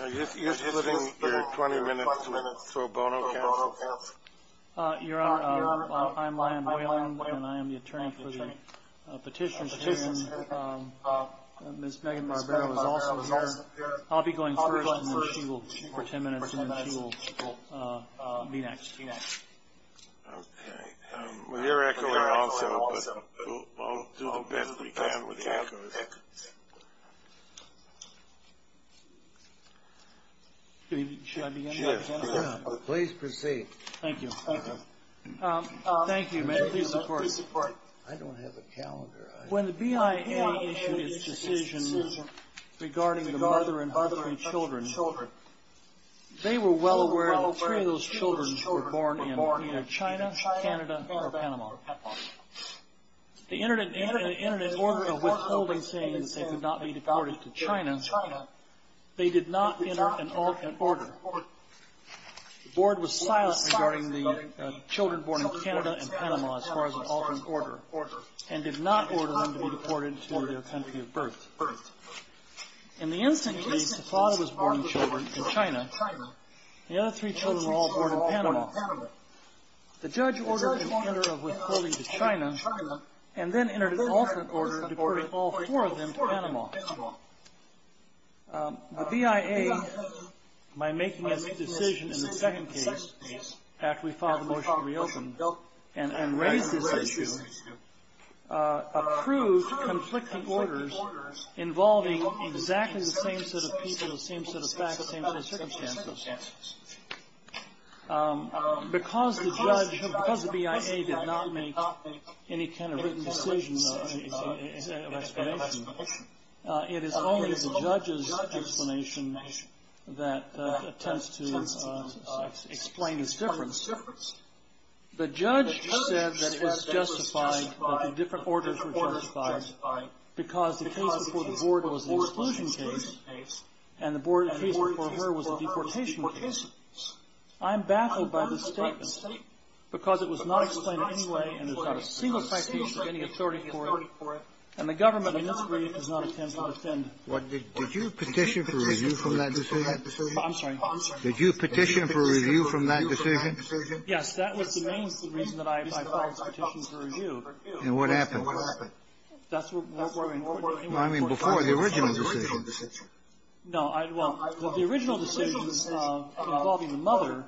You're putting your 20 minutes to a bono count? Your Honor, I'm Lion Boylan, and I am the attorney for the petition. Ms. Megan Barbero is also here. I'll be going first, and then she will, for 10 minutes, be next. Okay. With your echoing, I'll set up, but I'll do the best that we can with the echo. Should I begin? Please proceed. Thank you. Thank you, ma'am. Please support. I don't have a calendar. When the BIA issued its decision regarding the mother and three children, they were well aware that three of those children were born in either China, Canada, or Panama. They entered an order of withholding, saying that they could not be deported to China. They did not enter an order. The board was silent regarding the children born in Canada and Panama, as far as an alternate order, and did not order them to be deported to their country of birth. In the instant case, the father was born in China. The other three children were all born in Panama. The judge ordered an order of withholding to China, and then entered an alternate order to deport all four of them to Panama. The BIA, by making its decision in the second case, after we filed the motion to reopen, and raise this issue, approved conflicting orders involving exactly the same set of people, the same set of facts, the same set of circumstances. Because the judge, because the BIA did not make any kind of written decision of explanation, it is only the judge's explanation that attempts to explain this difference. The judge said that it was justified that the different orders were justified because the case before the board was an exclusion case and the case before her was a deportation case. I am baffled by this statement because it was not explained in any way, and there's not a single citation of any authority for it, and the government in its brief does not intend to defend it. Did you petition for review from that decision? I'm sorry. Did you petition for review from that decision? Yes. That was the main reason that I filed this petition for review. And what happened? That's what I mean. Well, I mean before the original decision. No. Well, the original decision involving the mother,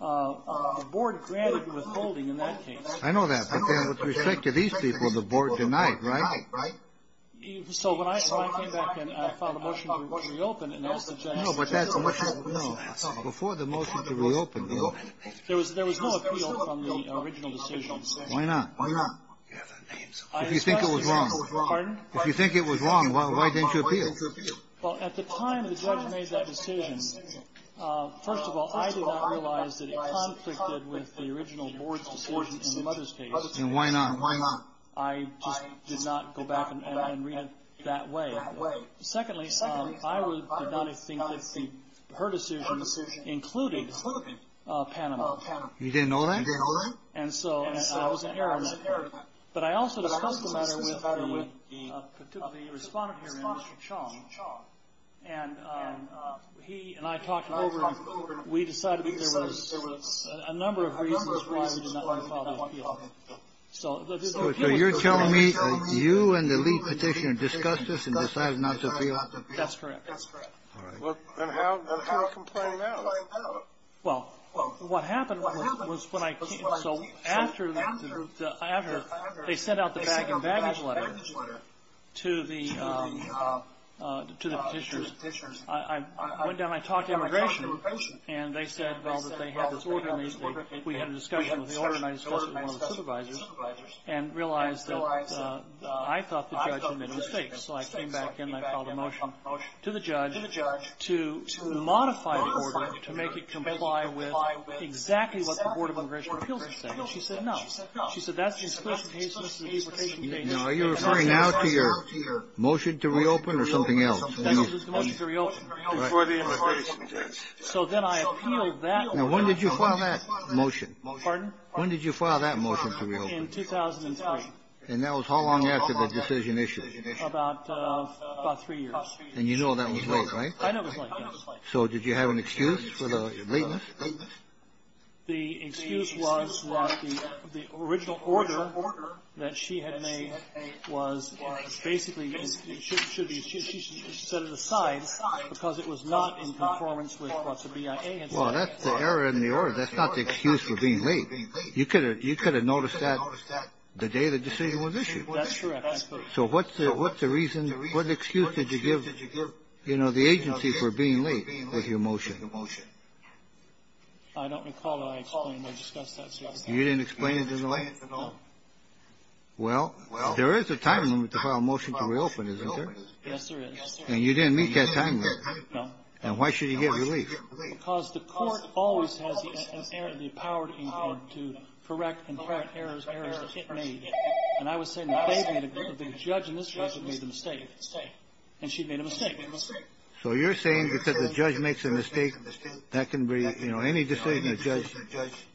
the board granted withholding in that case. I know that. But then with respect to these people, the board denied, right? So when I came back and I filed a motion to reopen and asked the judge. No, but that's a motion. No. Before the motion to reopen, there was no appeal from the original decision. Why not? Why not? If you think it was wrong. Pardon? If you think it was wrong, why didn't you appeal? Well, at the time the judge made that decision, first of all, I did not realize that it conflicted with the original board's decision in the mother's case. And why not? And why not? I just did not go back and read it that way. Secondly, I did not think that her decision included Panama. You didn't know that? You didn't know that? And so I was in error then. But I also discussed the matter with the respondent here, Mr. Chong, and he and I talked it over and we decided that there was a number of reasons why we did not want to appeal. So you're telling me that you and the lead petitioner discussed this and decided not to appeal? That's correct. That's correct. All right. And how did people complain about it? Well, what happened was when I came. So after they sent out the bag and baggage letter to the petitioners, I went down and I talked to immigration and they said, well, that they had this order in the estate, we had a discussion with the organized court and one of the supervisors, and realized that I thought the judge had made a mistake. So I came back in and I filed a motion to the judge to modify the order, to make it comply with exactly what the Board of Immigration Appeals had said. And she said no. She said that's the exclusion case and this is the deportation case. Now, are you referring now to your motion to reopen or something else? That was the motion to reopen before the immigration judge. So then I appealed that. Now, when did you file that motion? Pardon? When did you file that motion to reopen? In 2003. And that was how long after the decision issued? About three years. And you know that was late, right? I know it was late, yes. So did you have an excuse for the lateness? The excuse was that the original order that she had made was basically should be set aside because it was not in conformance with what the BIA had said. Well, that's the error in the order. That's not the excuse for being late. You could have noticed that the day the decision was issued. That's correct. So what's the reason? What excuse did you give, you know, the agency for being late with your motion? I don't recall that I explained or discussed that. You didn't explain it to them? No. Well, there is a time limit to file a motion to reopen, isn't there? Yes, there is. And you didn't meet that time limit. No. And why should you get relief? Because the court always has the power to correct and correct errors made. And she made a mistake. So you're saying because the judge makes a mistake, that can be, you know, any decision a judge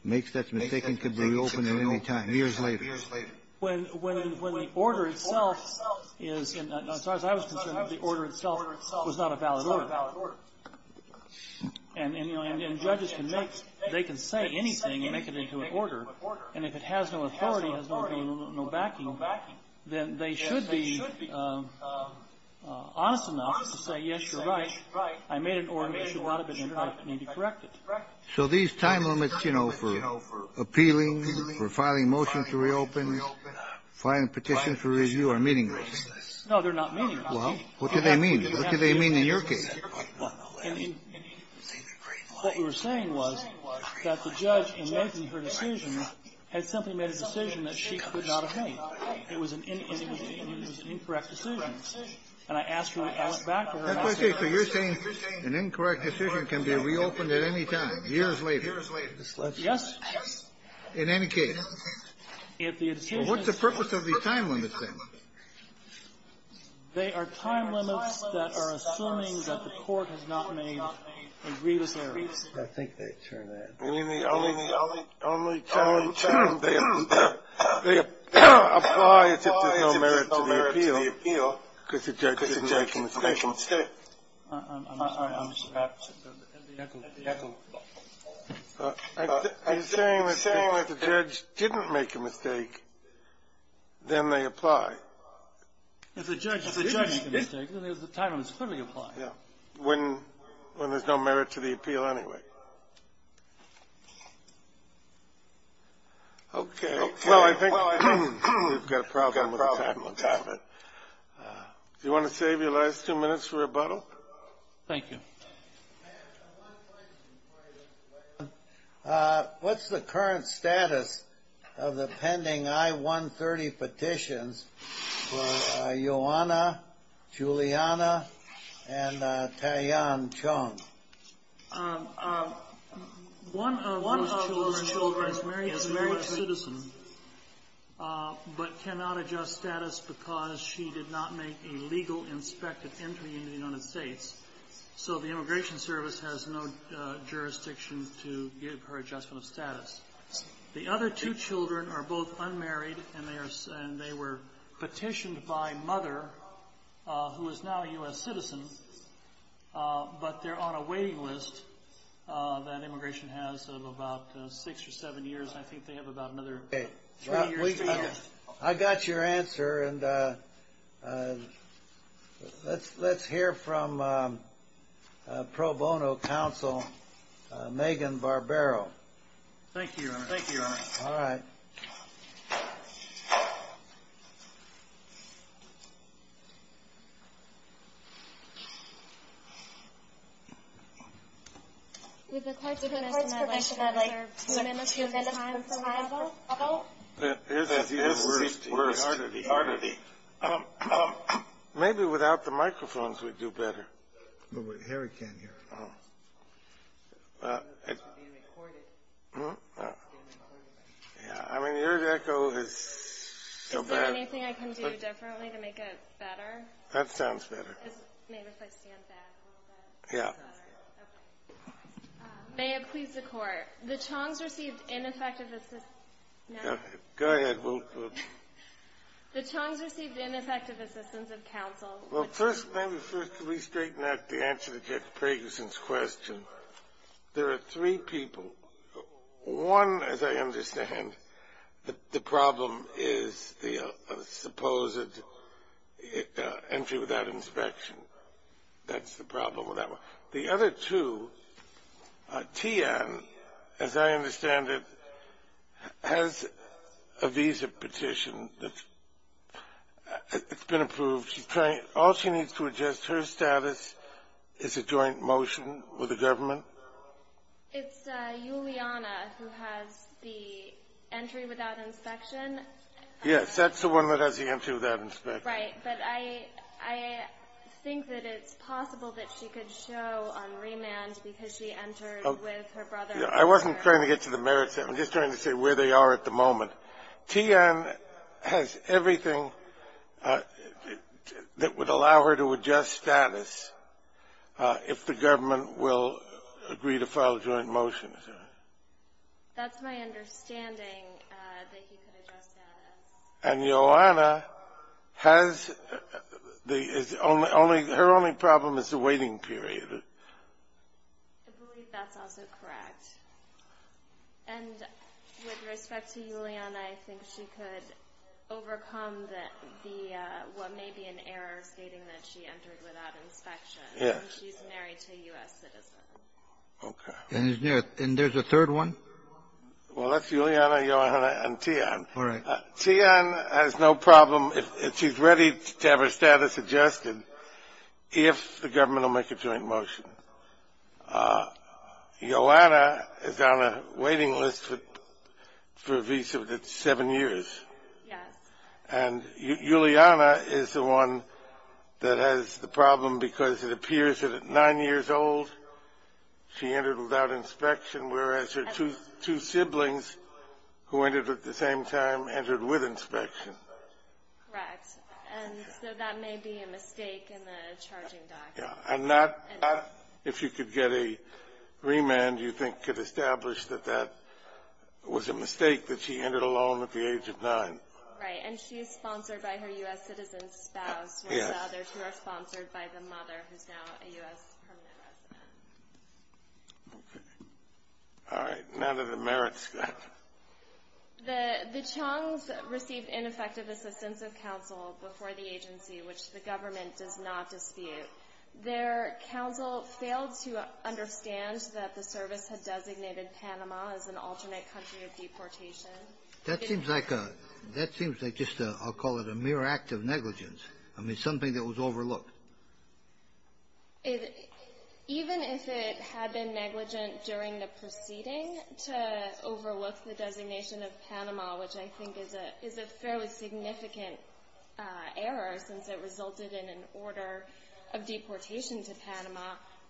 makes that's mistaken could be reopened at any time, years later. When the order itself is, as far as I was concerned, the order itself was not a valid order. And, you know, judges can make, they can say anything and make it into an order. And if it has no authority, has no backing, then they should be honest enough to say, yes, you're right. I made an order that should not have been corrected. So these time limits, you know, for appealing, for filing motions to reopen, filing petitions for review are meaningless. No, they're not meaningless. Well, what do they mean? What do they mean in your case? What we were saying was that the judge, in making her decision, had simply made a decision that she could not have made. It was an incorrect decision. And I asked her, I went back to her and I said. Okay, so you're saying an incorrect decision can be reopened at any time, years later. Yes. In any case. What's the purpose of these time limits, then? They are time limits that are assuming that the court has not made a grievous error. I think they turn that. I mean, the only time they apply is if there's no merit to the appeal, because the judge didn't make a mistake. I'm sorry, I'm just back to the echo. I'm saying that if the judge didn't make a mistake, then they apply. If the judge didn't make a mistake, then the time limit is clearly applied. When there's no merit to the appeal anyway. Okay. Well, I think we've got a problem with the time limit. Do you want to save your last two minutes for rebuttal? Thank you. I have one question. What's the current status of the pending I-130 petitions for Ioanna, Juliana, and Tian Chong? One of those children is a married citizen, but cannot adjust status because she did not make a legal inspected entry into the United States. So the Immigration Service has no jurisdiction to give her adjustment of status. The other two children are both unmarried, and they were petitioned by mother, who is now a U.S. citizen, but they're on a waiting list that Immigration has of about six or seven years. I think they have about another three years to go. I got your answer. And let's hear from pro bono counsel Megan Barbero. Thank you, Your Honor. Thank you, Your Honor. All right. With the court's permission, I'd like to amend the time for rebuttal. That's even worse. Maybe without the microphones we'd do better. Harry can't hear us. I mean, your echo is so bad. Is there anything I can do differently to make it better? That sounds better. Maybe if I stand back a little bit. Yeah. May it please the Court. The Chong's received ineffective assistance. Go ahead. The Chong's received ineffective assistance of counsel. Well, first, let me first restraighten out the answer to Judge Pragerson's question. There are three people. One, as I understand, the problem is the supposed entry without inspection. That's the problem with that one. The other two, Tian, as I understand it, has a visa petition that's been approved. All she needs to adjust her status is a joint motion with the government. It's Juliana who has the entry without inspection. Yes, that's the one that has the entry without inspection. Right. But I think that it's possible that she could show on remand because she entered with her brother. I wasn't trying to get to the merits. I'm just trying to say where they are at the moment. Tian has everything that would allow her to adjust status if the government will agree to file a joint motion. That's my understanding, that he could adjust status. And Johanna has the only her only problem is the waiting period. I believe that's also correct. And with respect to Juliana, I think she could overcome the what may be an error stating that she entered without inspection. Yes. And she's married to a U.S. citizen. Okay. And there's a third one? Tian has no problem if she's ready to have her status adjusted if the government will make a joint motion. Johanna is on a waiting list for a visa that's seven years. Yes. And Juliana is the one that has the problem because it appears that at nine years old she entered without inspection, whereas her two siblings who entered at the same time entered with inspection. Correct. And so that may be a mistake in the charging document. And not, if you could get a remand, you think could establish that that was a mistake that she entered alone at the age of nine. Right. And she is sponsored by her U.S. citizen spouse. Yes. And the other two are sponsored by the mother who's now a U.S. permanent resident. Okay. All right. None of the merits. The Chung's received ineffective assistance of counsel before the agency, which the government does not dispute. Their counsel failed to understand that the service had designated Panama as an alternate country of deportation. That seems like just a, I'll call it a mere act of negligence. I mean, something that was overlooked. Even if it had been negligent during the proceeding to overlook the designation of Panama, which I think is a fairly significant error since it resulted in an order of deportation to Panama,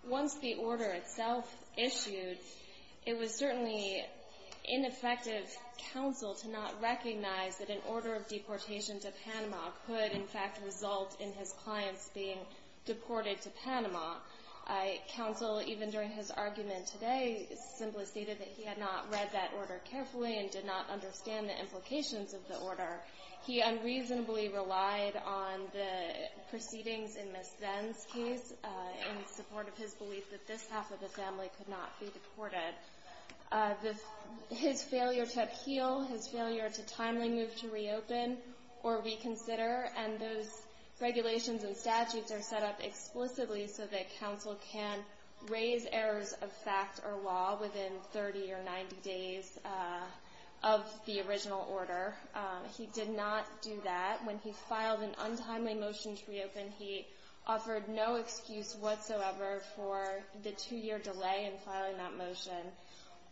once the order itself issued, it was certainly ineffective counsel to not recognize that an order of deportation to Panama could, in fact, result in his clients being deported to Panama. Counsel, even during his argument today, simply stated that he had not read that order carefully and did not understand the implications of the order. He unreasonably relied on the proceedings in Ms. Venn's case in support of his belief that this half of the family could not be deported. His failure to appeal, his failure to timely move to reopen or reconsider, and those regulations and statutes are set up explicitly so that counsel can raise errors of fact or law within 30 or 90 days of the original order. He did not do that. When he filed an untimely motion to reopen, he offered no excuse whatsoever for the two-year delay in filing that motion.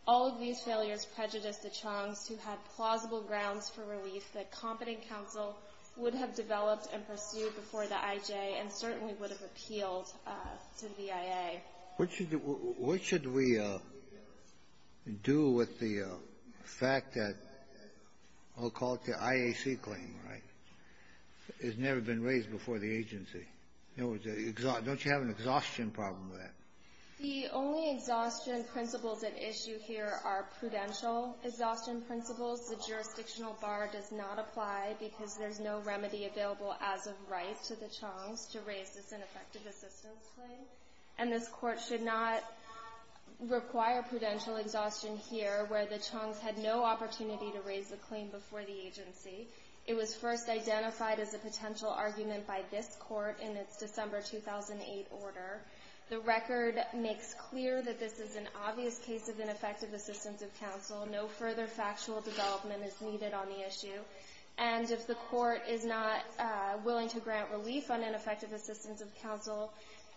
All of these failures prejudiced the Chong's who had plausible grounds for relief that competent counsel would have developed and pursued before the IJ and certainly would have appealed to the IA. What should we do with the fact that I'll call it the IAC claim, right? It's never been raised before the agency. Don't you have an exhaustion problem with that? The only exhaustion principles at issue here are prudential exhaustion principles. The jurisdictional bar does not apply because there's no remedy available as of right to the Chong's to raise this ineffective assistance claim. And this Court should not require prudential exhaustion here, where the Chong's had no opportunity to raise the claim before the agency. It was first identified as a potential argument by this Court in its December 2008 order. The record makes clear that this is an obvious case of ineffective assistance of counsel. No further factual development is needed on the issue. And if the Court is not willing to grant relief on ineffective assistance of counsel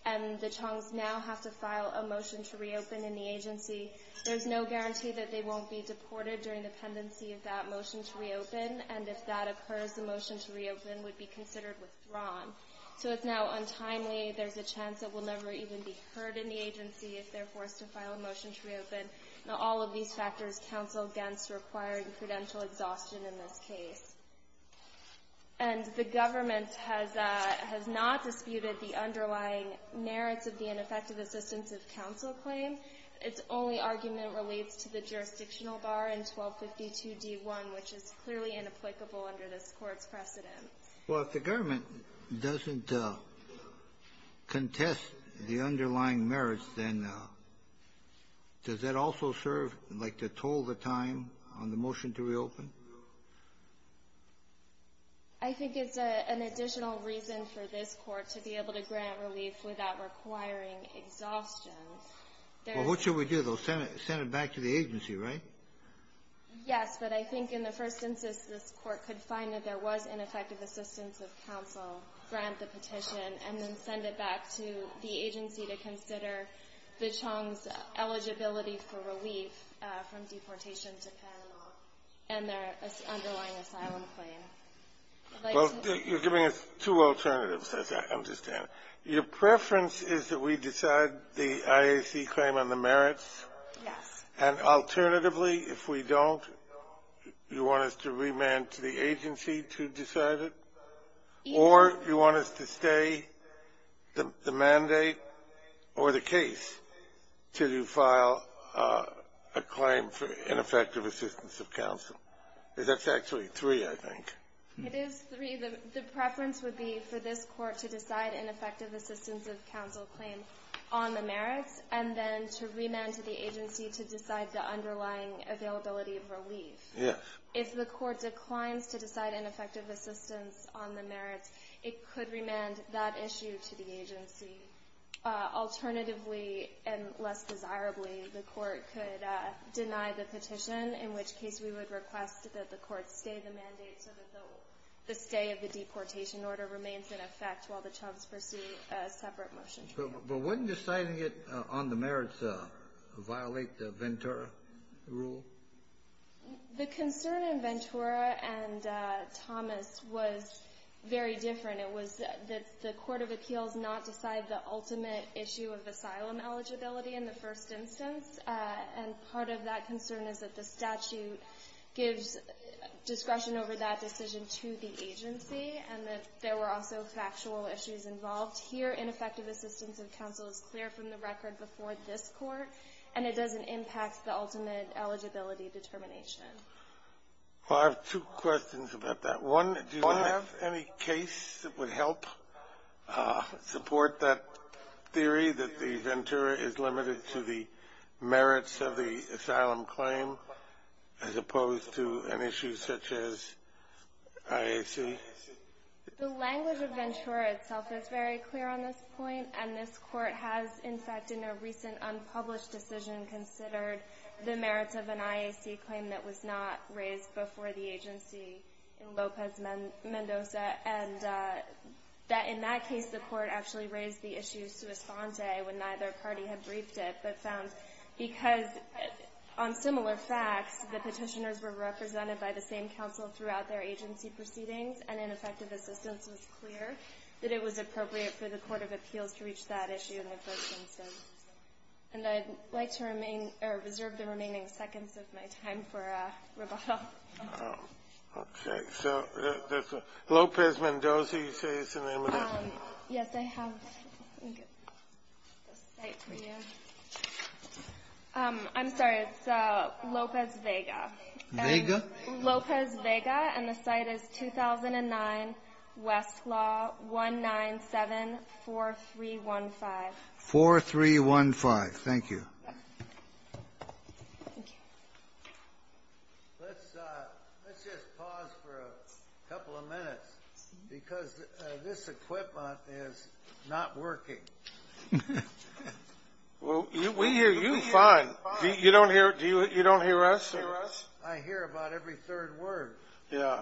and the Chong's now have to file a motion to reopen in the agency, there's no guarantee that they won't be deported during the pendency of that motion to reopen. And if that occurs, the motion to reopen would be considered withdrawn. So it's now untimely. There's a chance it will never even be heard in the agency if they're forced to file a motion to reopen. All of these factors counsel against requiring prudential exhaustion in this case. And the government has not disputed the underlying merits of the ineffective assistance of counsel claim. Its only argument relates to the jurisdictional bar in 1252d1, which is clearly inapplicable under this Court's precedent. Well, if the government doesn't contest the underlying merits, then does that also serve like to toll the time on the motion to reopen? I think it's an additional reason for this Court to be able to grant relief without requiring exhaustion. Well, what should we do? They'll send it back to the agency, right? Yes. But I think in the first instance, this Court could find that there was ineffective assistance of counsel, grant the petition, and then send it back to the agency to consider the Chong's eligibility for relief from deportation to Panama and their underlying asylum claim. Well, you're giving us two alternatives, as I understand it. Your preference is that we decide the IAC claim on the merits? Yes. And alternatively, if we don't, you want us to remand to the agency to decide it? Either. Or you want us to stay the mandate or the case to file a claim for ineffective assistance of counsel. That's actually three, I think. It is three. The preference would be for this Court to decide ineffective assistance of counsel claim on the merits and then to remand to the agency to decide the underlying availability of relief. Yes. If the Court declines to decide ineffective assistance on the merits, it could remand that issue to the agency. Alternatively, and less desirably, the Court could deny the petition, in which case we would request that the Court stay the mandate so that the stay of the deportation order remains in effect while the Chong's pursue a separate motion. But wouldn't deciding it on the merits violate the Ventura rule? The concern in Ventura and Thomas was very different. It was that the Court of Appeals not decide the ultimate issue of asylum eligibility in the first instance. And part of that concern is that the statute gives discretion over that decision to the agency and that there were also factual issues involved. Here, ineffective assistance of counsel is clear from the record before this and it doesn't impact the ultimate eligibility determination. I have two questions about that. One, do you have any case that would help support that theory that the Ventura is limited to the merits of the asylum claim as opposed to an issue such as IAC? The language of Ventura itself is very clear on this point, and this Court has, in fact, in a recent unpublished decision, considered the merits of an IAC claim that was not raised before the agency in Lopez Mendoza and that in that case, the Court actually raised the issue sui sante when neither party had briefed it, but found because on similar facts, the petitioners were represented by the same counsel throughout their agency proceedings and ineffective assistance was clear that it was appropriate for the Court of Appeals to reach that issue in the first instance. And I'd like to remain or reserve the remaining seconds of my time for rebuttal. Okay. So Lopez Mendoza, you say is an imminent? Yes, I have. Let me get the site for you. I'm sorry. It's Lopez Vega. Vega? Lopez Vega, and the site is 2009, Westlaw, 1974315. 4315. Thank you. Let's just pause for a couple of minutes, because this equipment is not working. Well, we hear you fine. You don't hear us? I hear about every third word. Yeah.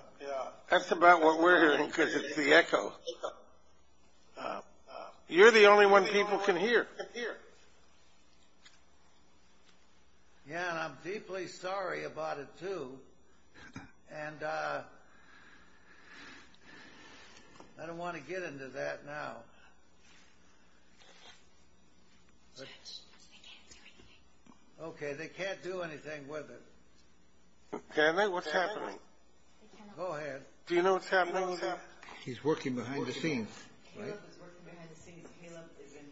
That's about what we're hearing, because it's the echo. You're the only one people can hear. Yeah, and I'm deeply sorry about it, too. And I don't want to get into that now. Judge, they can't do anything. Okay, they can't do anything with it. Can they? What's happening? Go ahead. Do you know what's happening? He's working behind the scenes. Caleb is working behind the scenes. Caleb is in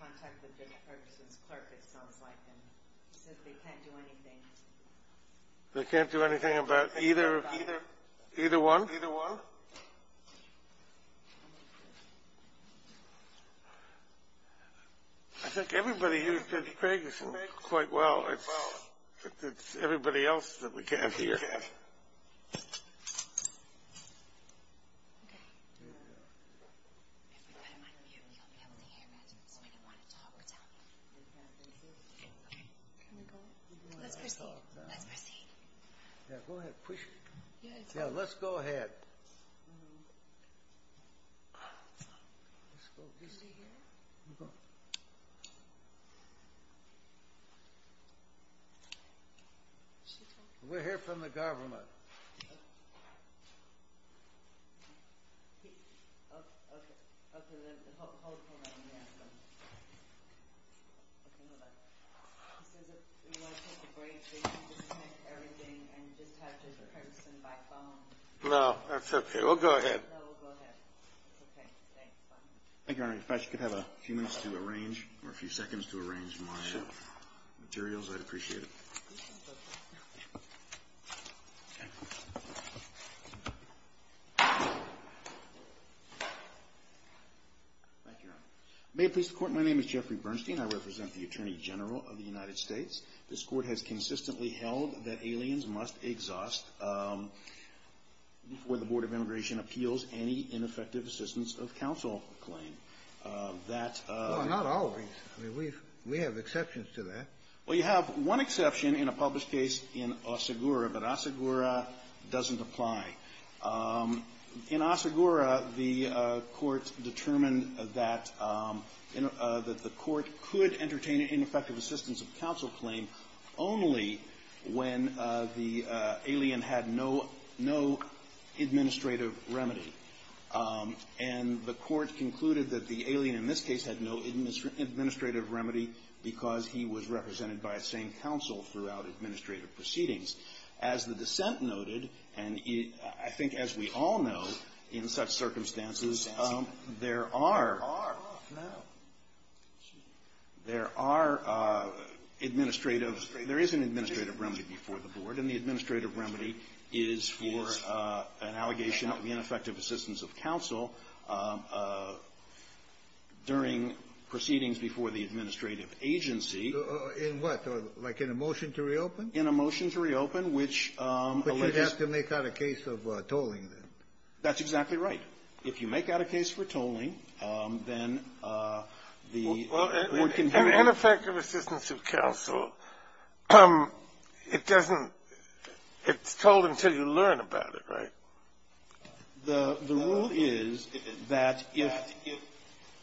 contact with Judge Ferguson's clerk, it sounds like, and he says they can't do anything. They can't do anything about either one? Either one. I think everybody hears Judge Ferguson quite well. It's everybody else that we can't hear. Okay. If we put him on mute, he'll be able to hear it, so we don't want to talk to him. Okay. Can we go? Let's proceed. Let's proceed. Yeah, go ahead. Push. Yeah, let's go ahead. Let's go. Can they hear us? No. We're here from the government. Okay. Hold on, let me ask him. Okay, hold on. He says if we want to take a break, they can just print everything and just have Judge Ferguson by phone. No, that's okay. We'll go ahead. No, we'll go ahead. It's okay. Thanks. Bye. Thank you, Your Honor. In fact, you could have a few minutes to arrange or a few seconds to arrange my materials. I'd appreciate it. Thank you, Your Honor. May it please the Court, my name is Jeffrey Bernstein. I represent the Attorney General of the United States. This Court has consistently held that aliens must exhaust, before the Board of Immigration appeals, any ineffective assistance of counsel claim. Well, not always. I mean, we have exceptions to that. Well, you have one exception in a published case in Asagura, but Asagura doesn't apply. In Asagura, the Court determined that the Court could entertain an ineffective assistance of counsel claim only when the alien had no administrative remedy. And the Court concluded that the alien in this case had no administrative remedy because he was represented by a sane counsel throughout administrative proceedings. As the dissent noted, and I think as we all know, in such circumstances, there are administrative there is an administrative remedy before the Board, and the administrative remedy is for an allegation of ineffective assistance of counsel during proceedings before the administrative agency. In what? Like in a motion to reopen? In a motion to reopen, which alleges But you'd have to make out a case of tolling, then. That's exactly right. If you make out a case for tolling, then the Well, an ineffective assistance of counsel, it doesn't It's told until you learn about it, right? The rule is that if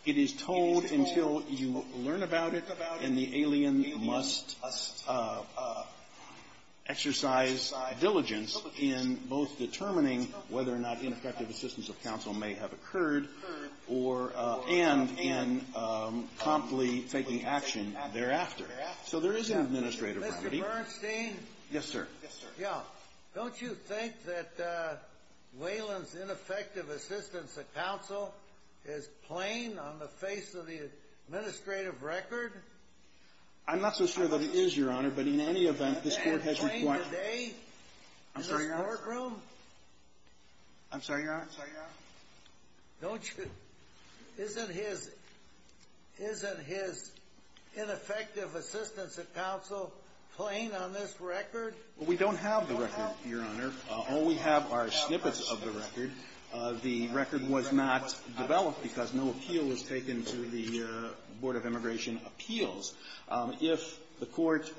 it is told until you learn about it, then the alien must exercise diligence in both determining whether or not ineffective assistance of counsel may have occurred or and in promptly taking action thereafter. So there is an administrative remedy. Mr. Bernstein? Yes, sir. Yeah. Don't you think that Whalen's ineffective assistance of counsel is plain on the face of the administrative record? I'm not so sure that it is, Your Honor, but in any event, this Court has required Is it plain today in this courtroom? I'm sorry, Your Honor. I'm sorry, Your Honor. I'm sorry, Your Honor. Don't you Isn't his Isn't his ineffective assistance of counsel plain on this record? Well, we don't have the record, Your Honor. All we have are snippets of the record. The record was not developed because no appeal was taken to the Board of Immigration Appeals. If the Court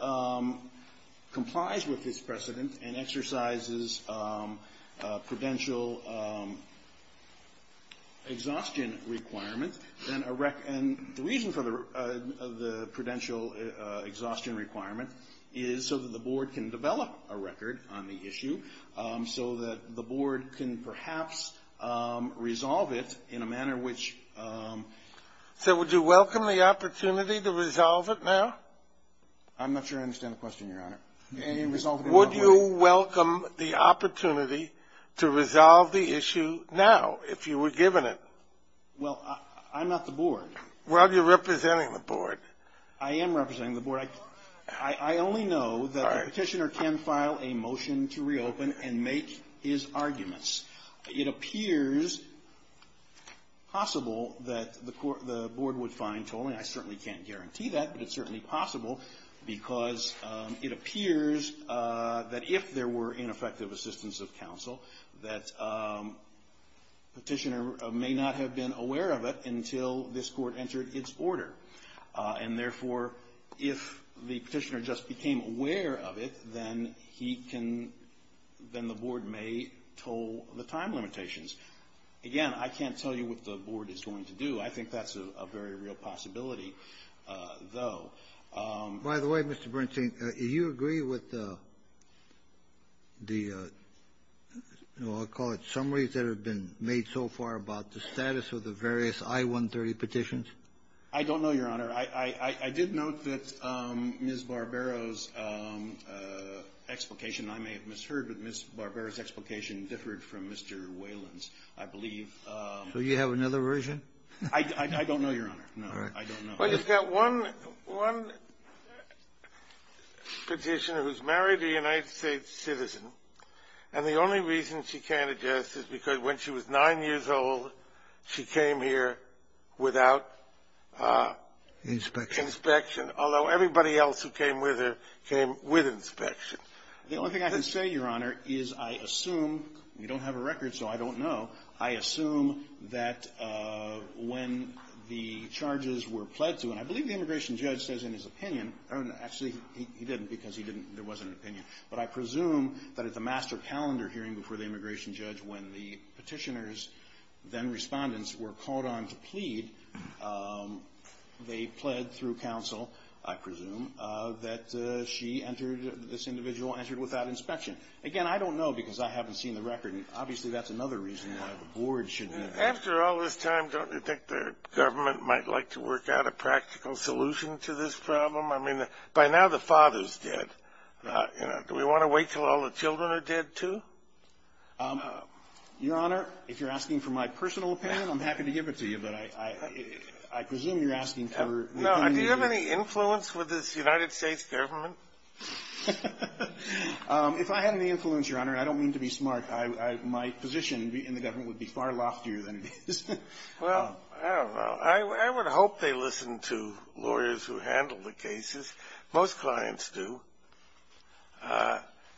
complies with this precedent and exercises prudential exhaustion requirements, then a rec And the reason for the prudential exhaustion requirement is so that the Board can develop a record on the issue so that the Board can perhaps resolve it in a manner which So would you welcome the opportunity to resolve it now? I'm not sure I understand the question, Your Honor. Would you welcome the opportunity to resolve the issue now if you were given it? Well, I'm not the board. Well, you're representing the board. I am representing the board. I only know that the Petitioner can file a motion to reopen and make his arguments. It appears possible that the Board would find tolling. I certainly can't guarantee that, but it's certainly possible because it appears that if there were ineffective assistance of counsel, that Petitioner may not have been aware of it until this Court entered its order. And, therefore, if the Petitioner just became aware of it, then he can — then the Board may toll the time limitations. Again, I can't tell you what the Board is going to do. I think that's a very real possibility, though. By the way, Mr. Bernstein, do you agree with the, I'll call it, summaries that have been made so far about the status of the various I-130 petitions? I don't know, Your Honor. I did note that Ms. Barbero's explication, I may have misheard, but Ms. Barbero's explication differed from Mr. Whalen's, I believe. So you have another version? I don't know, Your Honor. All right. I don't know. Well, you've got one Petitioner who's married a United States citizen, and the only reason she can't address this is because when she was 9 years old, she came here without inspection, although everybody else who came with her came with inspection. The only thing I can say, Your Honor, is I assume — we don't have a record, so I don't know — I assume that when the charges were pled to, and I believe the immigration judge says in his opinion — actually, he didn't, because he didn't — there wasn't an immigration judge when the petitioners, then respondents, were called on to plead. They pled through counsel, I presume, that she entered — this individual entered without inspection. Again, I don't know, because I haven't seen the record, and obviously that's another reason why the board should know. After all this time, don't you think the government might like to work out a practical solution to this problem? I mean, by now the father's dead. Do we want to wait until all the children are dead, too? Your Honor, if you're asking for my personal opinion, I'm happy to give it to you, but I presume you're asking for — No. Do you have any influence with this United States government? If I had any influence, Your Honor, I don't mean to be smart. My position in the government would be far loftier than it is. Well, I don't know. I would hope they listen to lawyers who handle the cases. Most clients do.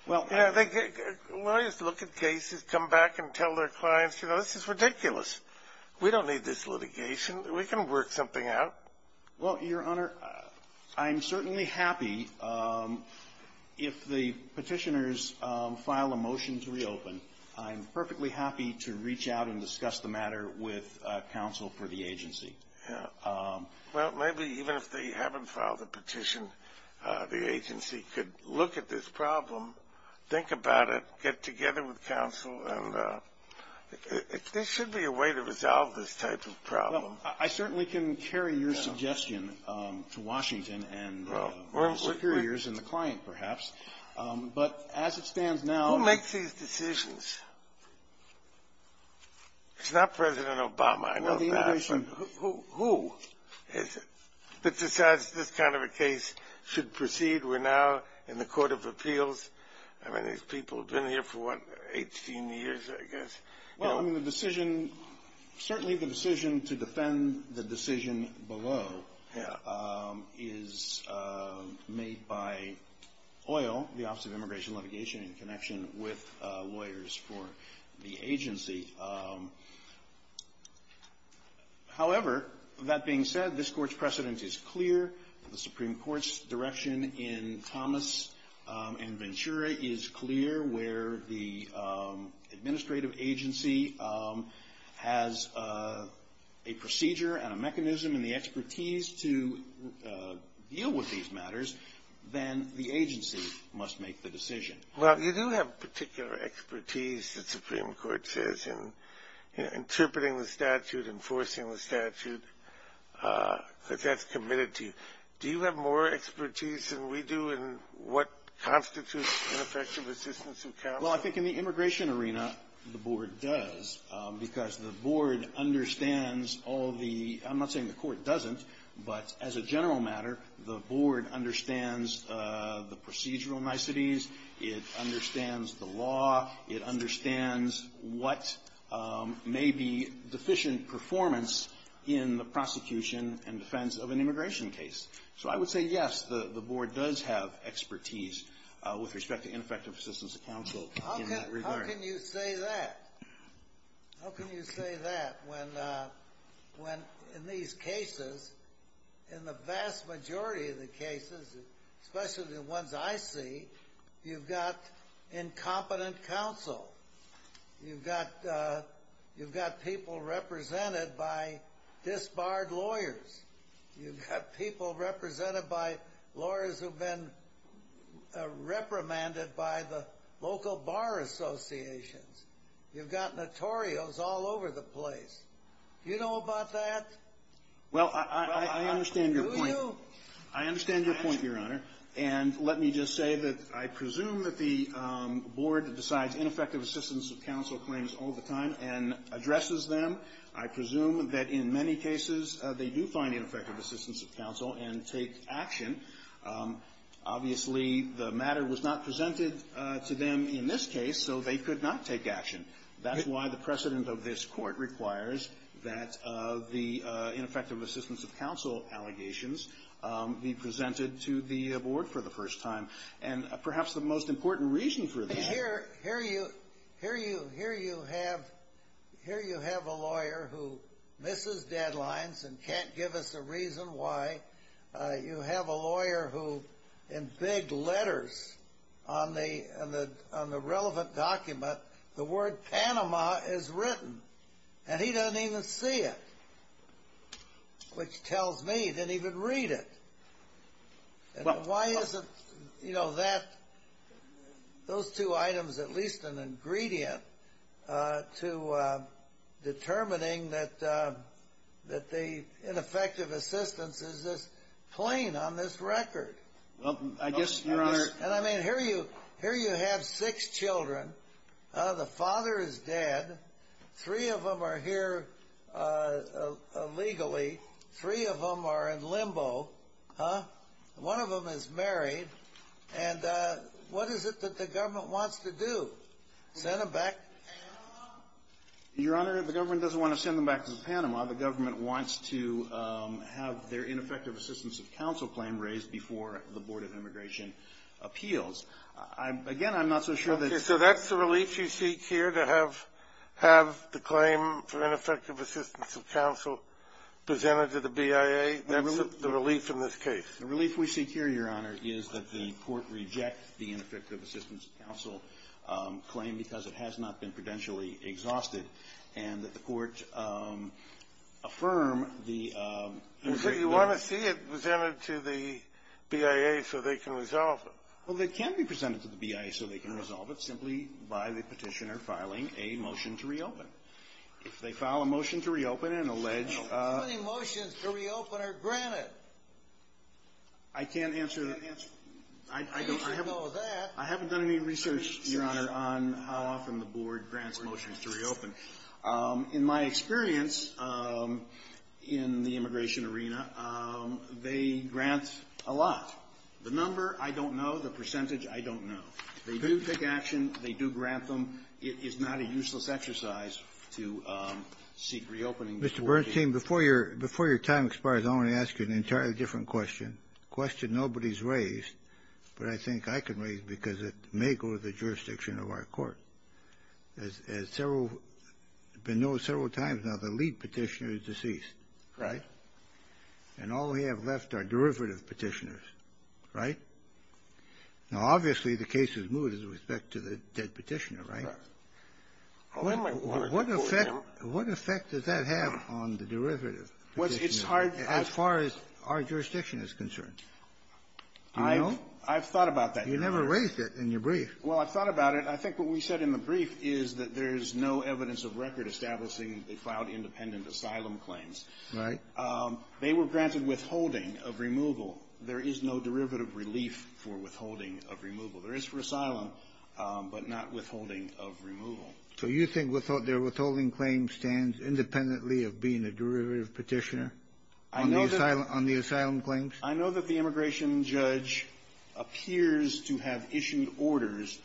Well, I think lawyers look at cases, come back and tell their clients, you know, this is ridiculous. We don't need this litigation. We can work something out. Well, Your Honor, I'm certainly happy if the Petitioners file a motion to reopen. I'm perfectly happy to reach out and discuss the matter with counsel for the agency. Well, maybe even if they haven't filed a petition, the agency could look at this problem, think about it, get together with counsel, and there should be a way to resolve this type of problem. Well, I certainly can carry your suggestion to Washington and the superiors and the client, perhaps, but as it stands now — Who makes these decisions? It's not President Obama. I know that. Who decides this kind of a case should proceed? We're now in the Court of Appeals. I mean, these people have been here for, what, 18 years, I guess? Well, I mean, the decision — certainly the decision to defend the decision below is made by OIL, the Office of Immigration and Litigation, in connection with lawyers for the agency. However, that being said, this Court's precedent is clear. The Supreme Court's direction in Thomas and Ventura is clear, where the administrative agency has a procedure and a mechanism and the expertise to deal with these matters, then the agency must make the decision. Well, you do have particular expertise, the Supreme Court says, in interpreting the statute, enforcing the statute, that that's committed to you. Do you have more expertise than we do in what constitutes ineffective assistance of counsel? Well, I think in the immigration arena, the board does, because the board understands all the — I'm not saying the court doesn't, but as a general matter, the board understands the procedural niceties. It understands the law. It understands what may be deficient performance in the prosecution and defense of an immigration case. So I would say, yes, the board does have expertise with respect to ineffective assistance of counsel in that regard. How can you say that? How can you say that when in these cases, in the vast majority of the cases, especially the ones I see, you've got incompetent counsel, you've got people represented by disbarred lawyers, you've got people represented by lawyers who've been reprimanded by the local bar associations, you've got notorios all over the place. Do you know about that? Well, I understand your point. Do you? I understand your point, Your Honor. And let me just say that I presume that the board decides ineffective assistance of counsel claims all the time and addresses them. I presume that in many cases, they do find ineffective assistance of counsel and take action. Obviously, the matter was not presented to them in this case, so they could not take action. That's why the precedent of this Court requires that the ineffective assistance of counsel allegations be presented to the board for the first time. And perhaps the most important reason for that ---- Here you have a lawyer who misses deadlines and can't give us a reason why. You have a lawyer who, in big letters on the relevant document, the word Panama is written, and he doesn't even see it, which tells me he didn't even read it. And why isn't, you know, that, those two items at least an ingredient to determining that the ineffective assistance is this plain on this record? Well, I guess, Your Honor ---- And I mean, here you have six children. The father is dead. Three of them are here illegally. Three of them are in limbo. Huh? One of them is married. And what is it that the government wants to do, send them back? Your Honor, the government doesn't want to send them back to Panama. The government wants to have their ineffective assistance of counsel claim raised before the Board of Immigration Appeals. Again, I'm not so sure that's ---- Okay, so that's the relief you seek here, to have the claim for ineffective assistance of counsel presented to the BIA? That's the relief in this case. The relief we seek here, Your Honor, is that the Court reject the ineffective assistance of counsel claim because it has not been prudentially exhausted, and that the Court affirm the ---- So you want to see it presented to the BIA so they can resolve it. Well, it can be presented to the BIA so they can resolve it simply by the Petitioner filing a motion to reopen. If they file a motion to reopen and allege ---- How many motions to reopen are granted? I can't answer the answer. I don't know that. I haven't done any research, Your Honor, on how often the Board grants motions to reopen. In my experience in the immigration arena, they grant a lot. The number, I don't know. The percentage, I don't know. They do take action. They do grant them. It is not a useless exercise to seek reopening. Mr. Bernstein, before your time expires, I want to ask you an entirely different question, a question nobody's raised, but I think I can raise it because it may go to the jurisdiction of our Court. As several ---- been known several times now, the lead Petitioner is deceased. Right. And all we have left are derivative Petitioners. Right? Now, obviously, the case is moved with respect to the dead Petitioner, right? Right. What effect does that have on the derivative Petitioner as far as our jurisdiction is concerned? I've thought about that, Your Honor. You never raised it in your brief. Well, I've thought about it. I think what we said in the brief is that there is no evidence of record establishing they filed independent asylum claims. Right. They were granted withholding of removal. There is no derivative relief for withholding of removal. There is for asylum, but not withholding of removal. So you think their withholding claim stands independently of being a derivative Petitioner on the asylum claims? I know that the immigration judge appears to have issued orders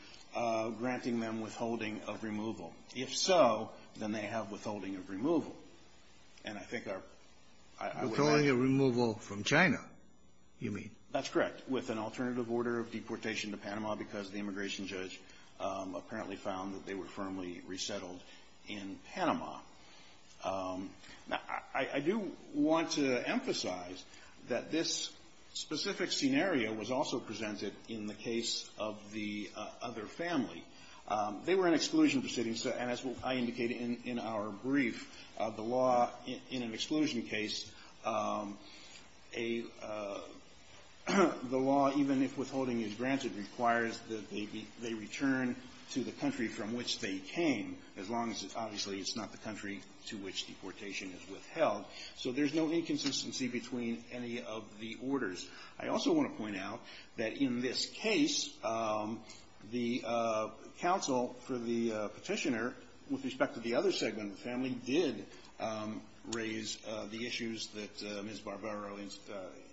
granting them withholding of removal. If so, then they have withholding of removal. And I think our ---- Withholding of removal from China, you mean? That's correct, with an alternative order of deportation to Panama because the immigration judge apparently found that they were firmly resettled in Panama. Now, I do want to emphasize that this specific scenario was also presented in the case of the other family. They were an exclusion proceeding, and as I indicated in our brief, the law in an exclusion case, a ---- the law, even if withholding is granted, requires that they be ---- they return to the country from which they came, as long as, obviously, it's not the country to which deportation is withheld. So there's no inconsistency between any of the orders. I also want to point out that in this case, the counsel for the Petitioner, with respect to the other segment of the family, did raise the issues that Ms. Barbero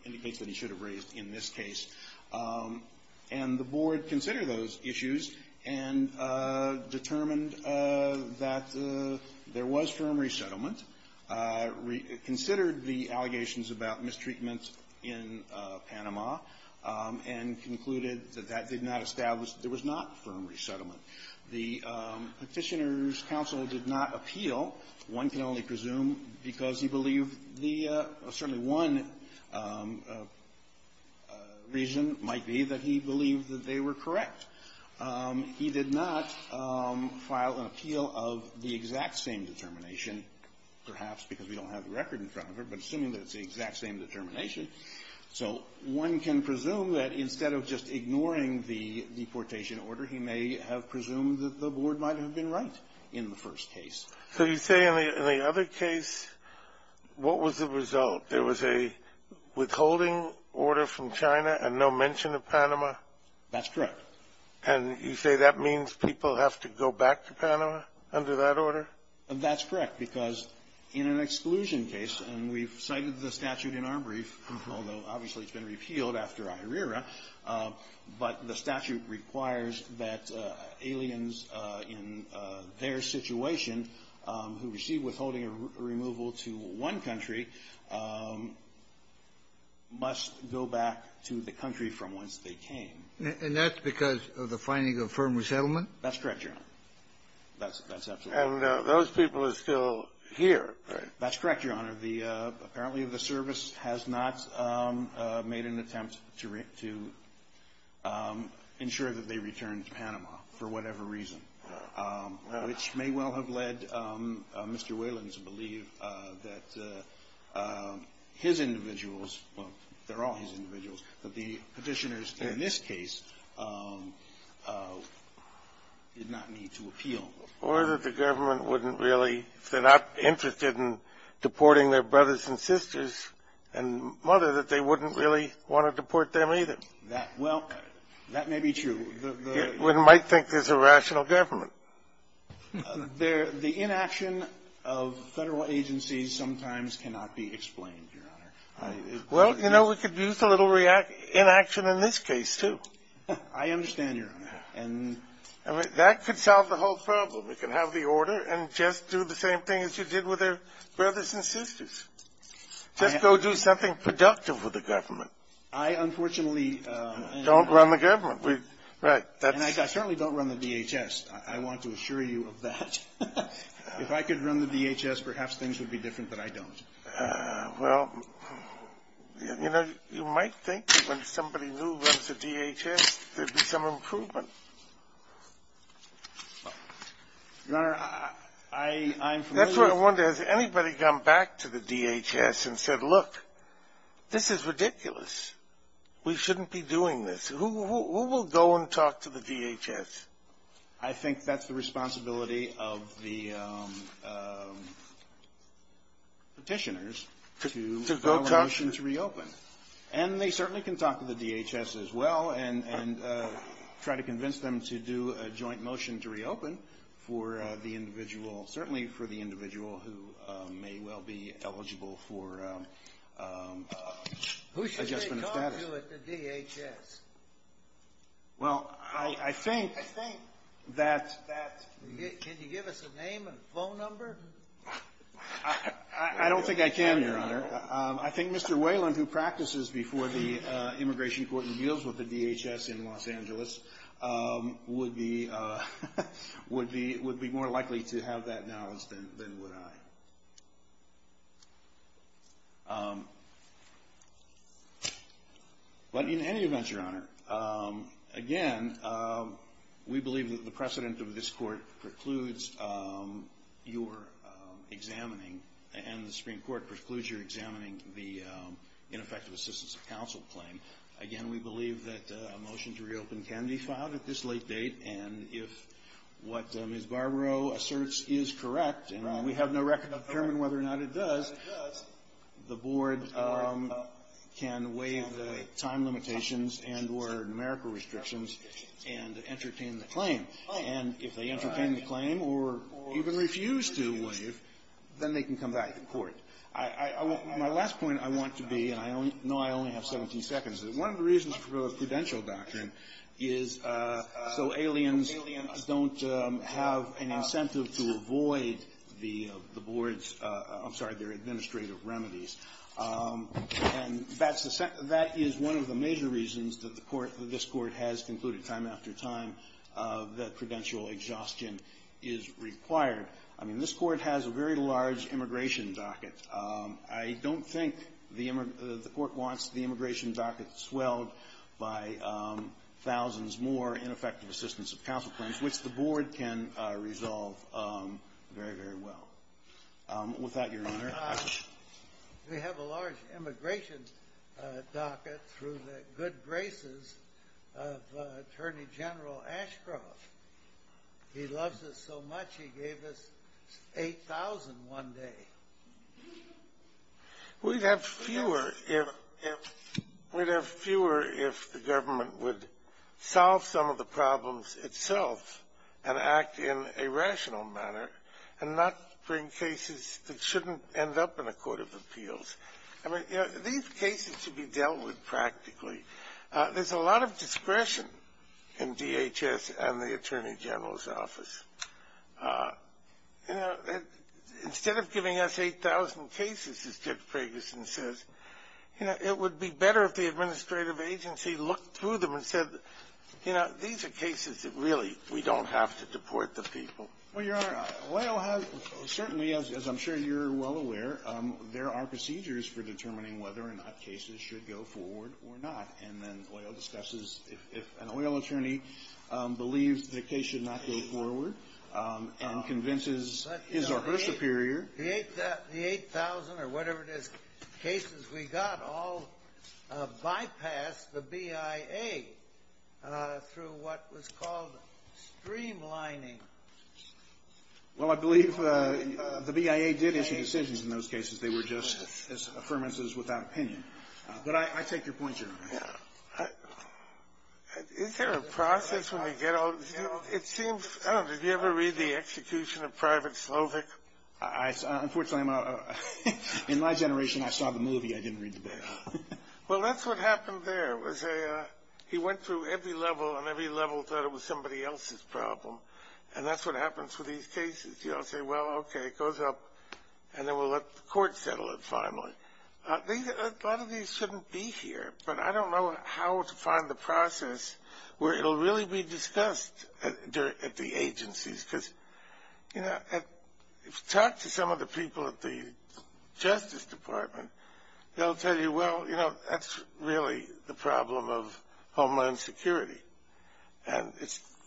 indicates that he should have raised in this case. And the Board considered those issues and determined that there was firm resettlement, considered the allegations about mistreatment in Panama, and concluded that that did not establish that there was not firm resettlement. The Petitioner's counsel did not appeal. One can only presume, because he believed the ---- certainly one reason might be that he believed that they were correct. He did not file an appeal of the exact same determination, perhaps because we don't have the record in front of her, but assuming that it's the exact same determination. So one can presume that instead of just ignoring the deportation order, he may have presumed that the Board might have been right in the first case. So you say in the other case, what was the result? There was a withholding order from China and no mention of Panama? That's correct. And you say that means people have to go back to Panama under that order? That's correct, because in an exclusion case, and we've cited the statute in our case, although obviously it's been repealed after IRERA, but the statute requires that aliens in their situation who received withholding removal to one country must go back to the country from whence they came. And that's because of the finding of firm resettlement? That's correct, Your Honor. That's absolutely correct. And those people are still here, right? That's correct, Your Honor. Apparently the service has not made an attempt to ensure that they return to Panama for whatever reason, which may well have led Mr. Whalen to believe that his individuals – well, they're all his individuals – that the Petitioners in this case did not need to appeal. Or that the government wouldn't really, if they're not interested in deporting their brothers and sisters and mother, that they wouldn't really want to deport them either. That – well, that may be true. One might think there's a rational government. The inaction of Federal agencies sometimes cannot be explained, Your Honor. Well, you know, we could use a little inaction in this case, too. I understand, Your Honor. That could solve the whole problem. We can have the order and just do the same thing as you did with their brothers and sisters. Just go do something productive with the government. I, unfortunately – Don't run the government. Right. And I certainly don't run the DHS. I want to assure you of that. If I could run the DHS, perhaps things would be different, but I don't. Well, you know, you might think that when somebody new runs the DHS, there'd be some improvement. Your Honor, I'm familiar with – That's what I wonder. Has anybody gone back to the DHS and said, look, this is ridiculous. We shouldn't be doing this. Who will go and talk to the DHS? I think that's the responsibility of the Petitioners to allow a motion to reopen. And they certainly can talk to the DHS as well and try to convince them to do a joint motion to reopen for the individual, certainly for the individual who may well be eligible for adjustment of status. Who should they talk to at the DHS? Well, I think that – Can you give us a name and phone number? I don't think I can, Your Honor. I think Mr. Whalen, who practices before the Immigration Court and deals with the DHS in Los Angeles, would be more likely to have that knowledge than would I. But in any event, Your Honor, again, we believe that the precedent of this Court precludes your examining – and the Supreme Court precludes your examining the ineffective assistance of counsel claim. Again, we believe that a motion to reopen can be filed at this late date, and if what Ms. Barbaro asserts is correct, and we have no record of determining whether or not it does, the Board can waive the time limitations and or numerical restrictions and entertain the claim. And if they entertain the claim or even refuse to waive, then they can come back to court. My last point I want to be, and I know I only have 17 seconds, is one of the reasons for the prudential doctrine is so aliens don't have an incentive to avoid the Board's – I'm sorry, their administrative remedies. And that's the – that is one of the major reasons that the Court – that this Court has concluded time after time that prudential exhaustion is required. I mean, this Court has a very large immigration docket. I don't think the – the Court wants the immigration docket swelled by thousands more ineffective assistance of counsel claims, which the Board can resolve very, very well. With that, Your Honor. We have a large immigration docket through the good graces of Attorney General Ashcroft. He loves us so much he gave us 8,000 one day. We'd have fewer if – we'd have fewer if the government would solve some of the problems itself and act in a rational manner and not bring cases that shouldn't end up in a court of appeals. I mean, you know, these cases should be dealt with practically. There's a lot of discretion in DHS and the Attorney General's office. You know, instead of giving us 8,000 cases, as Judge Ferguson says, you know, it would be better if the administrative agency looked through them and said, you know, these are cases that really we don't have to deport the people. Well, Your Honor, LAO has – certainly, as I'm sure you're well aware, there are procedures for determining whether or not cases should go forward or not. And then LAO discusses if an LAO attorney believes the case should not go forward and convinces his or her superior. The 8,000 or whatever it is cases we got all bypassed the BIA through what was called streamlining. Well, I believe the BIA did issue decisions in those cases. They were just affirmances without opinion. But I take your point, Your Honor. Is there a process when we get all – you know, it seems – I don't know. Did you ever read The Execution of Private Slovic? Unfortunately, in my generation, I saw the movie. I didn't read the book. Well, that's what happened there was he went through every level and every level thought it was somebody else's problem. And that's what happens with these cases. You all say, well, okay, it goes up, and then we'll let the court settle it finally. A lot of these shouldn't be here, but I don't know how to find the process where it will really be discussed at the agencies. Because, you know, if you talk to some of the people at the Justice Department, they'll tell you, well, you know, that's really the problem of Homeland Security. And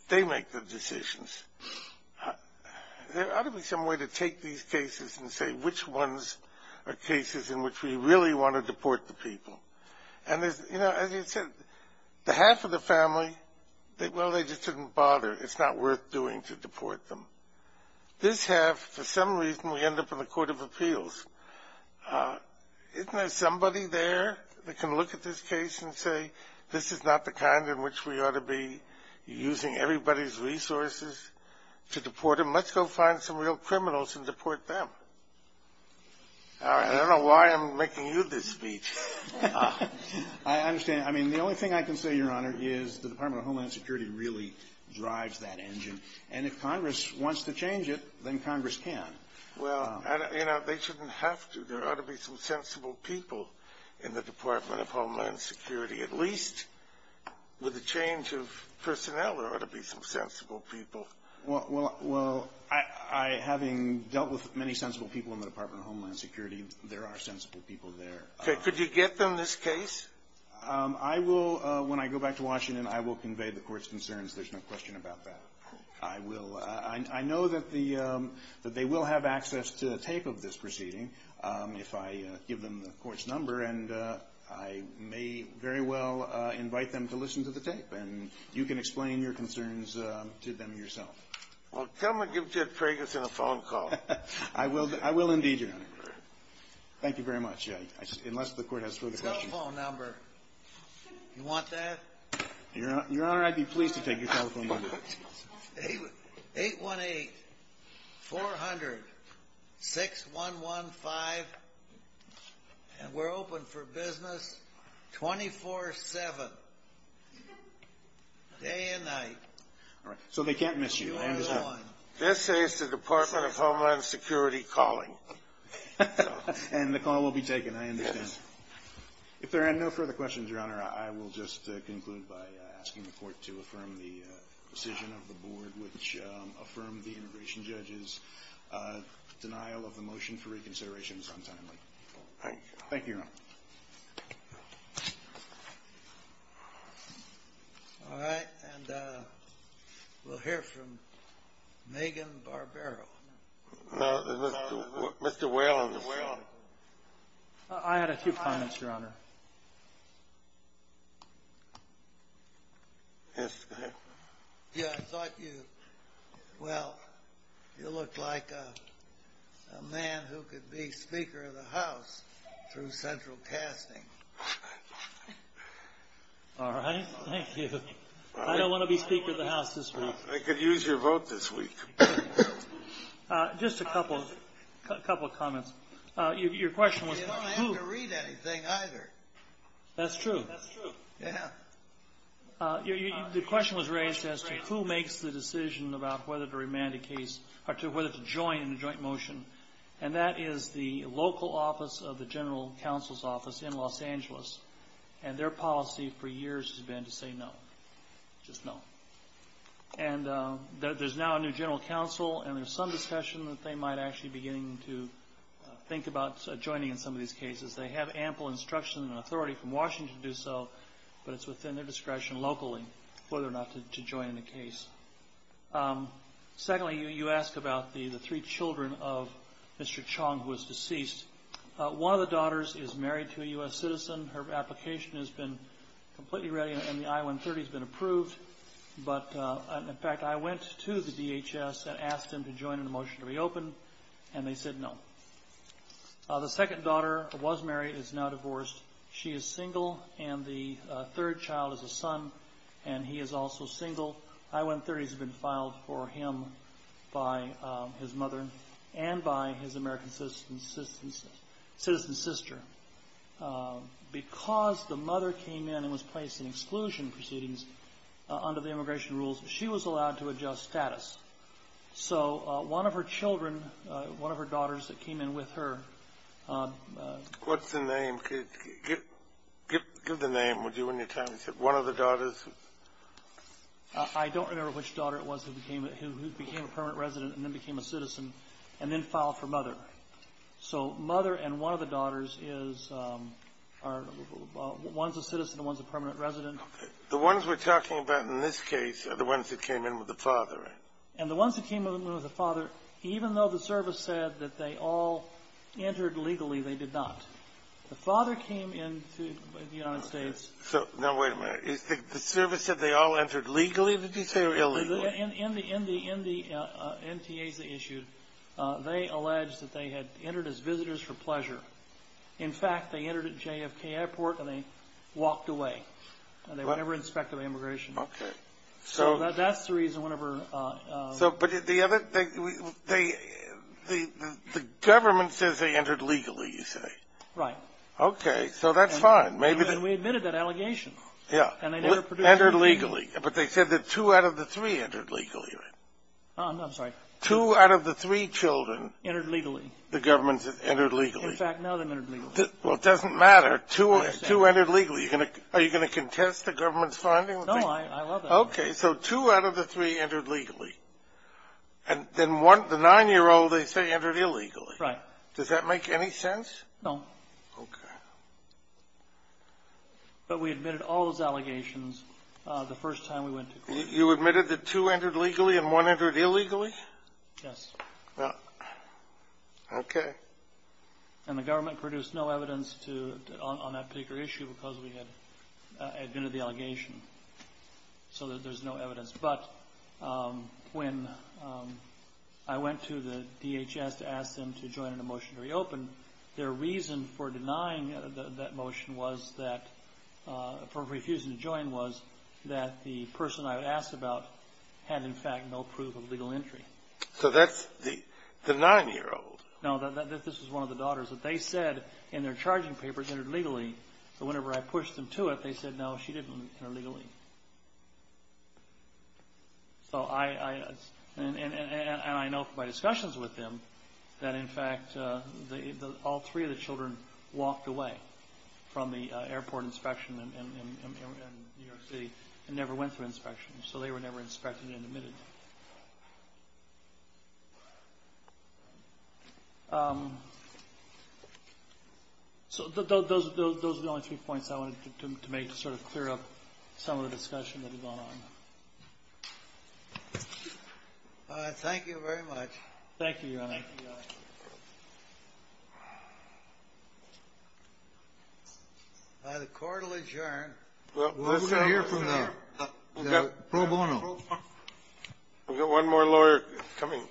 they make the decisions. There ought to be some way to take these cases and say which ones are cases in which we really want to deport the people. And, you know, as you said, the half of the family, well, they just didn't bother. It's not worth doing to deport them. This half, for some reason, we end up in the Court of Appeals. Isn't there somebody there that can look at this case and say, this is not the kind in which we ought to be using everybody's resources to deport them? Let's go find some real criminals and deport them. I don't know why I'm making you this speech. I understand. I mean, the only thing I can say, Your Honor, is the Department of Homeland Security really drives that engine. And if Congress wants to change it, then Congress can. Well, you know, they shouldn't have to. There ought to be some sensible people in the Department of Homeland Security, at least with the change of personnel there ought to be some sensible people. Well, having dealt with many sensible people in the Department of Homeland Security, there are sensible people there. Could you get them this case? I will. When I go back to Washington, I will convey the Court's concerns. There's no question about that. I will. I know that they will have access to a tape of this proceeding if I give them the Court's number. And I may very well invite them to listen to the tape. And you can explain your concerns to them yourself. Well, come and give Ted Ferguson a phone call. I will indeed, Your Honor. Thank you very much, unless the Court has further questions. Cell phone number. You want that? Your Honor, I'd be pleased to take your telephone number. 818-400-6115, and we're open for business 24-7, day and night. All right. So they can't miss you. I understand. This is the Department of Homeland Security calling. And the call will be taken. I understand. If there are no further questions, Your Honor, I will just conclude by asking the Court to affirm the decision of the Board, which affirmed the integration judge's denial of the motion for reconsideration sometime later. Thank you, Your Honor. All right. And we'll hear from Megan Barbero. Mr. Whalen. I had a few comments, Your Honor. Yes, go ahead. Yeah, I thought you, well, you looked like a man who could be Speaker of the House through central casting. All right. Thank you. I don't want to be Speaker of the House this week. I could use your vote this week. Just a couple of comments. Your question was who? You don't have to read anything either. That's true. That's true. Yeah. The question was raised as to who makes the decision about whether to remand a case or whether to join in the joint motion. And that is the local office of the General Counsel's Office in Los Angeles, and their policy for years has been to say no, just no. And there's now a new general counsel, and there's some discussion that they might actually be beginning to think about joining in some of these cases. They have ample instruction and authority from Washington to do so, but it's within their discretion locally whether or not to join in the case. Secondly, you ask about the three children of Mr. Chong, who is deceased. One of the daughters is married to a U.S. citizen. Her application has been completely ready, and the I-130 has been approved. But, in fact, I went to the DHS and asked them to join in the motion to reopen, and they said no. The second daughter was married and is now divorced. She is single, and the third child is a son, and he is also single. I-130s have been filed for him by his mother and by his American citizen sister. Because the mother came in and was placed in exclusion proceedings under the immigration rules, she was allowed to adjust status. So one of her children, one of her daughters that came in with her. What's the name? Give the name, would you, and your time. Is it one of the daughters? I don't remember which daughter it was who became a permanent resident and then became a citizen and then filed for mother. So mother and one of the daughters is one's a citizen and one's a permanent resident. The ones we're talking about in this case are the ones that came in with the father, right? And the ones that came in with the father, even though the service said that they all entered legally, they did not. The father came into the United States. Now, wait a minute. The service said they all entered legally, did you say, or illegally? In the NTAs they issued, they alleged that they had entered as visitors for pleasure. In fact, they entered at JFK Airport and they walked away, and they were never inspected by immigration. Okay. So that's the reason whenever But the other thing, the government says they entered legally, you say. Right. Okay. So that's fine. And we admitted that allegation. Yeah. And they never produced anything. Entered legally. But they said that two out of the three entered legally, right? I'm sorry. Two out of the three children. Entered legally. The government said entered legally. In fact, none of them entered legally. Well, it doesn't matter. Two entered legally. Are you going to contest the government's finding? No, I love that. Okay. So two out of the three entered legally. And then one, the nine-year-old, they say entered illegally. Right. Does that make any sense? No. Okay. But we admitted all those allegations the first time we went to court. You admitted that two entered legally and one entered illegally? Yes. Well, okay. And the government produced no evidence on that particular issue because we had admitted the allegation. So there's no evidence. But when I went to the DHS to ask them to join in a motion to reopen, their reason for denying that motion was that, for refusing to join, was that the person I asked about had, in fact, no proof of legal entry. So that's the nine-year-old. No, this is one of the daughters. They said in their charging papers entered legally. But whenever I pushed them to it, they said, no, she didn't enter legally. And I know from my discussions with them that, in fact, all three of the children walked away from the airport inspection in New York City and never went through inspection. So they were never inspected and admitted. So those are the only three points I wanted to make to sort of clear up some of the discussion that had gone on. Thank you very much. Thank you, Your Honor. The court will adjourn. We've got to hear from the pro bono. We've got one more lawyer coming.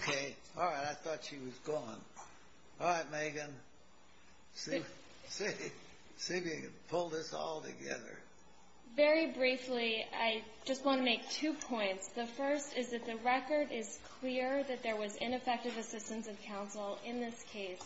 Okay. All right. I thought she was gone. All right, Megan. See if you can pull this all together. Very briefly, I just want to make two points. The first is that the record is clear that there was ineffective assistance of counsel in this case,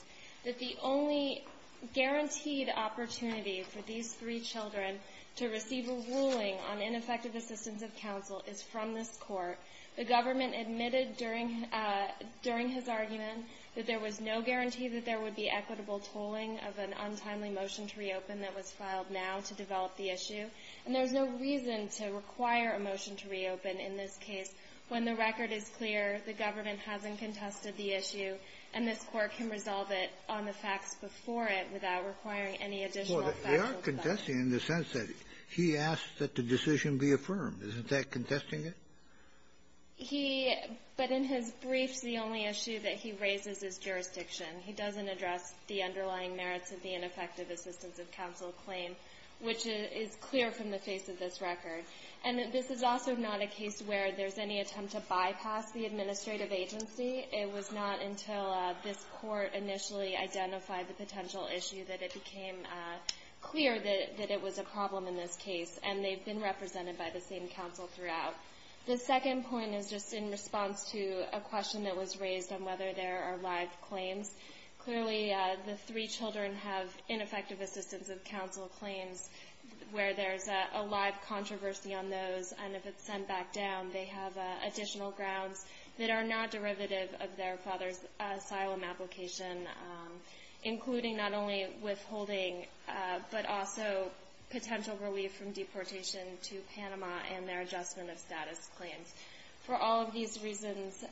that the only guaranteed opportunity for these three children to receive a ruling on ineffective assistance of counsel is from this Court. The government admitted during his argument that there was no guarantee that there would be equitable tolling of an untimely motion to reopen that was filed now to develop the issue. And there's no reason to require a motion to reopen in this case when the record is clear, the government hasn't contested the issue, and this Court can resolve it on the facts before it without requiring any additional factual evidence. Well, they are contesting in the sense that he asked that the decision be affirmed. Isn't that contesting it? He — but in his briefs, the only issue that he raises is jurisdiction. He doesn't address the underlying merits of the ineffective assistance of counsel claim, which is clear from the face of this record. And this is also not a case where there's any attempt to bypass the administrative agency. It was not until this Court initially identified the potential issue that it became clear that it was a problem in this case, and they've been represented by the same counsel throughout. The second point is just in response to a question that was raised on whether there are live claims. Clearly, the three children have ineffective assistance of counsel claims where there's a live controversy on those, and if it's sent back down, they have additional grounds that are not derivative of their father's asylum application, including not only withholding but also potential relief from deportation to Panama and their adjustment of status claims. For all of these reasons,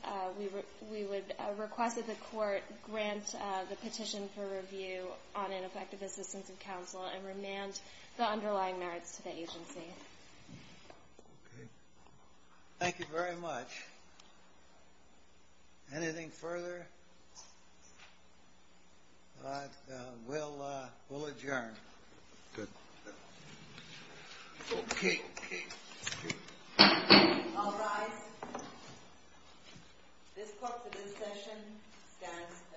we would request that the Court grant the petition for review on ineffective assistance of counsel and remand the underlying merits to the agency. Okay. Thank you very much. Anything further? We'll adjourn. Good. Okay. I'll rise. This Court for this session stands adjourned. Thank you.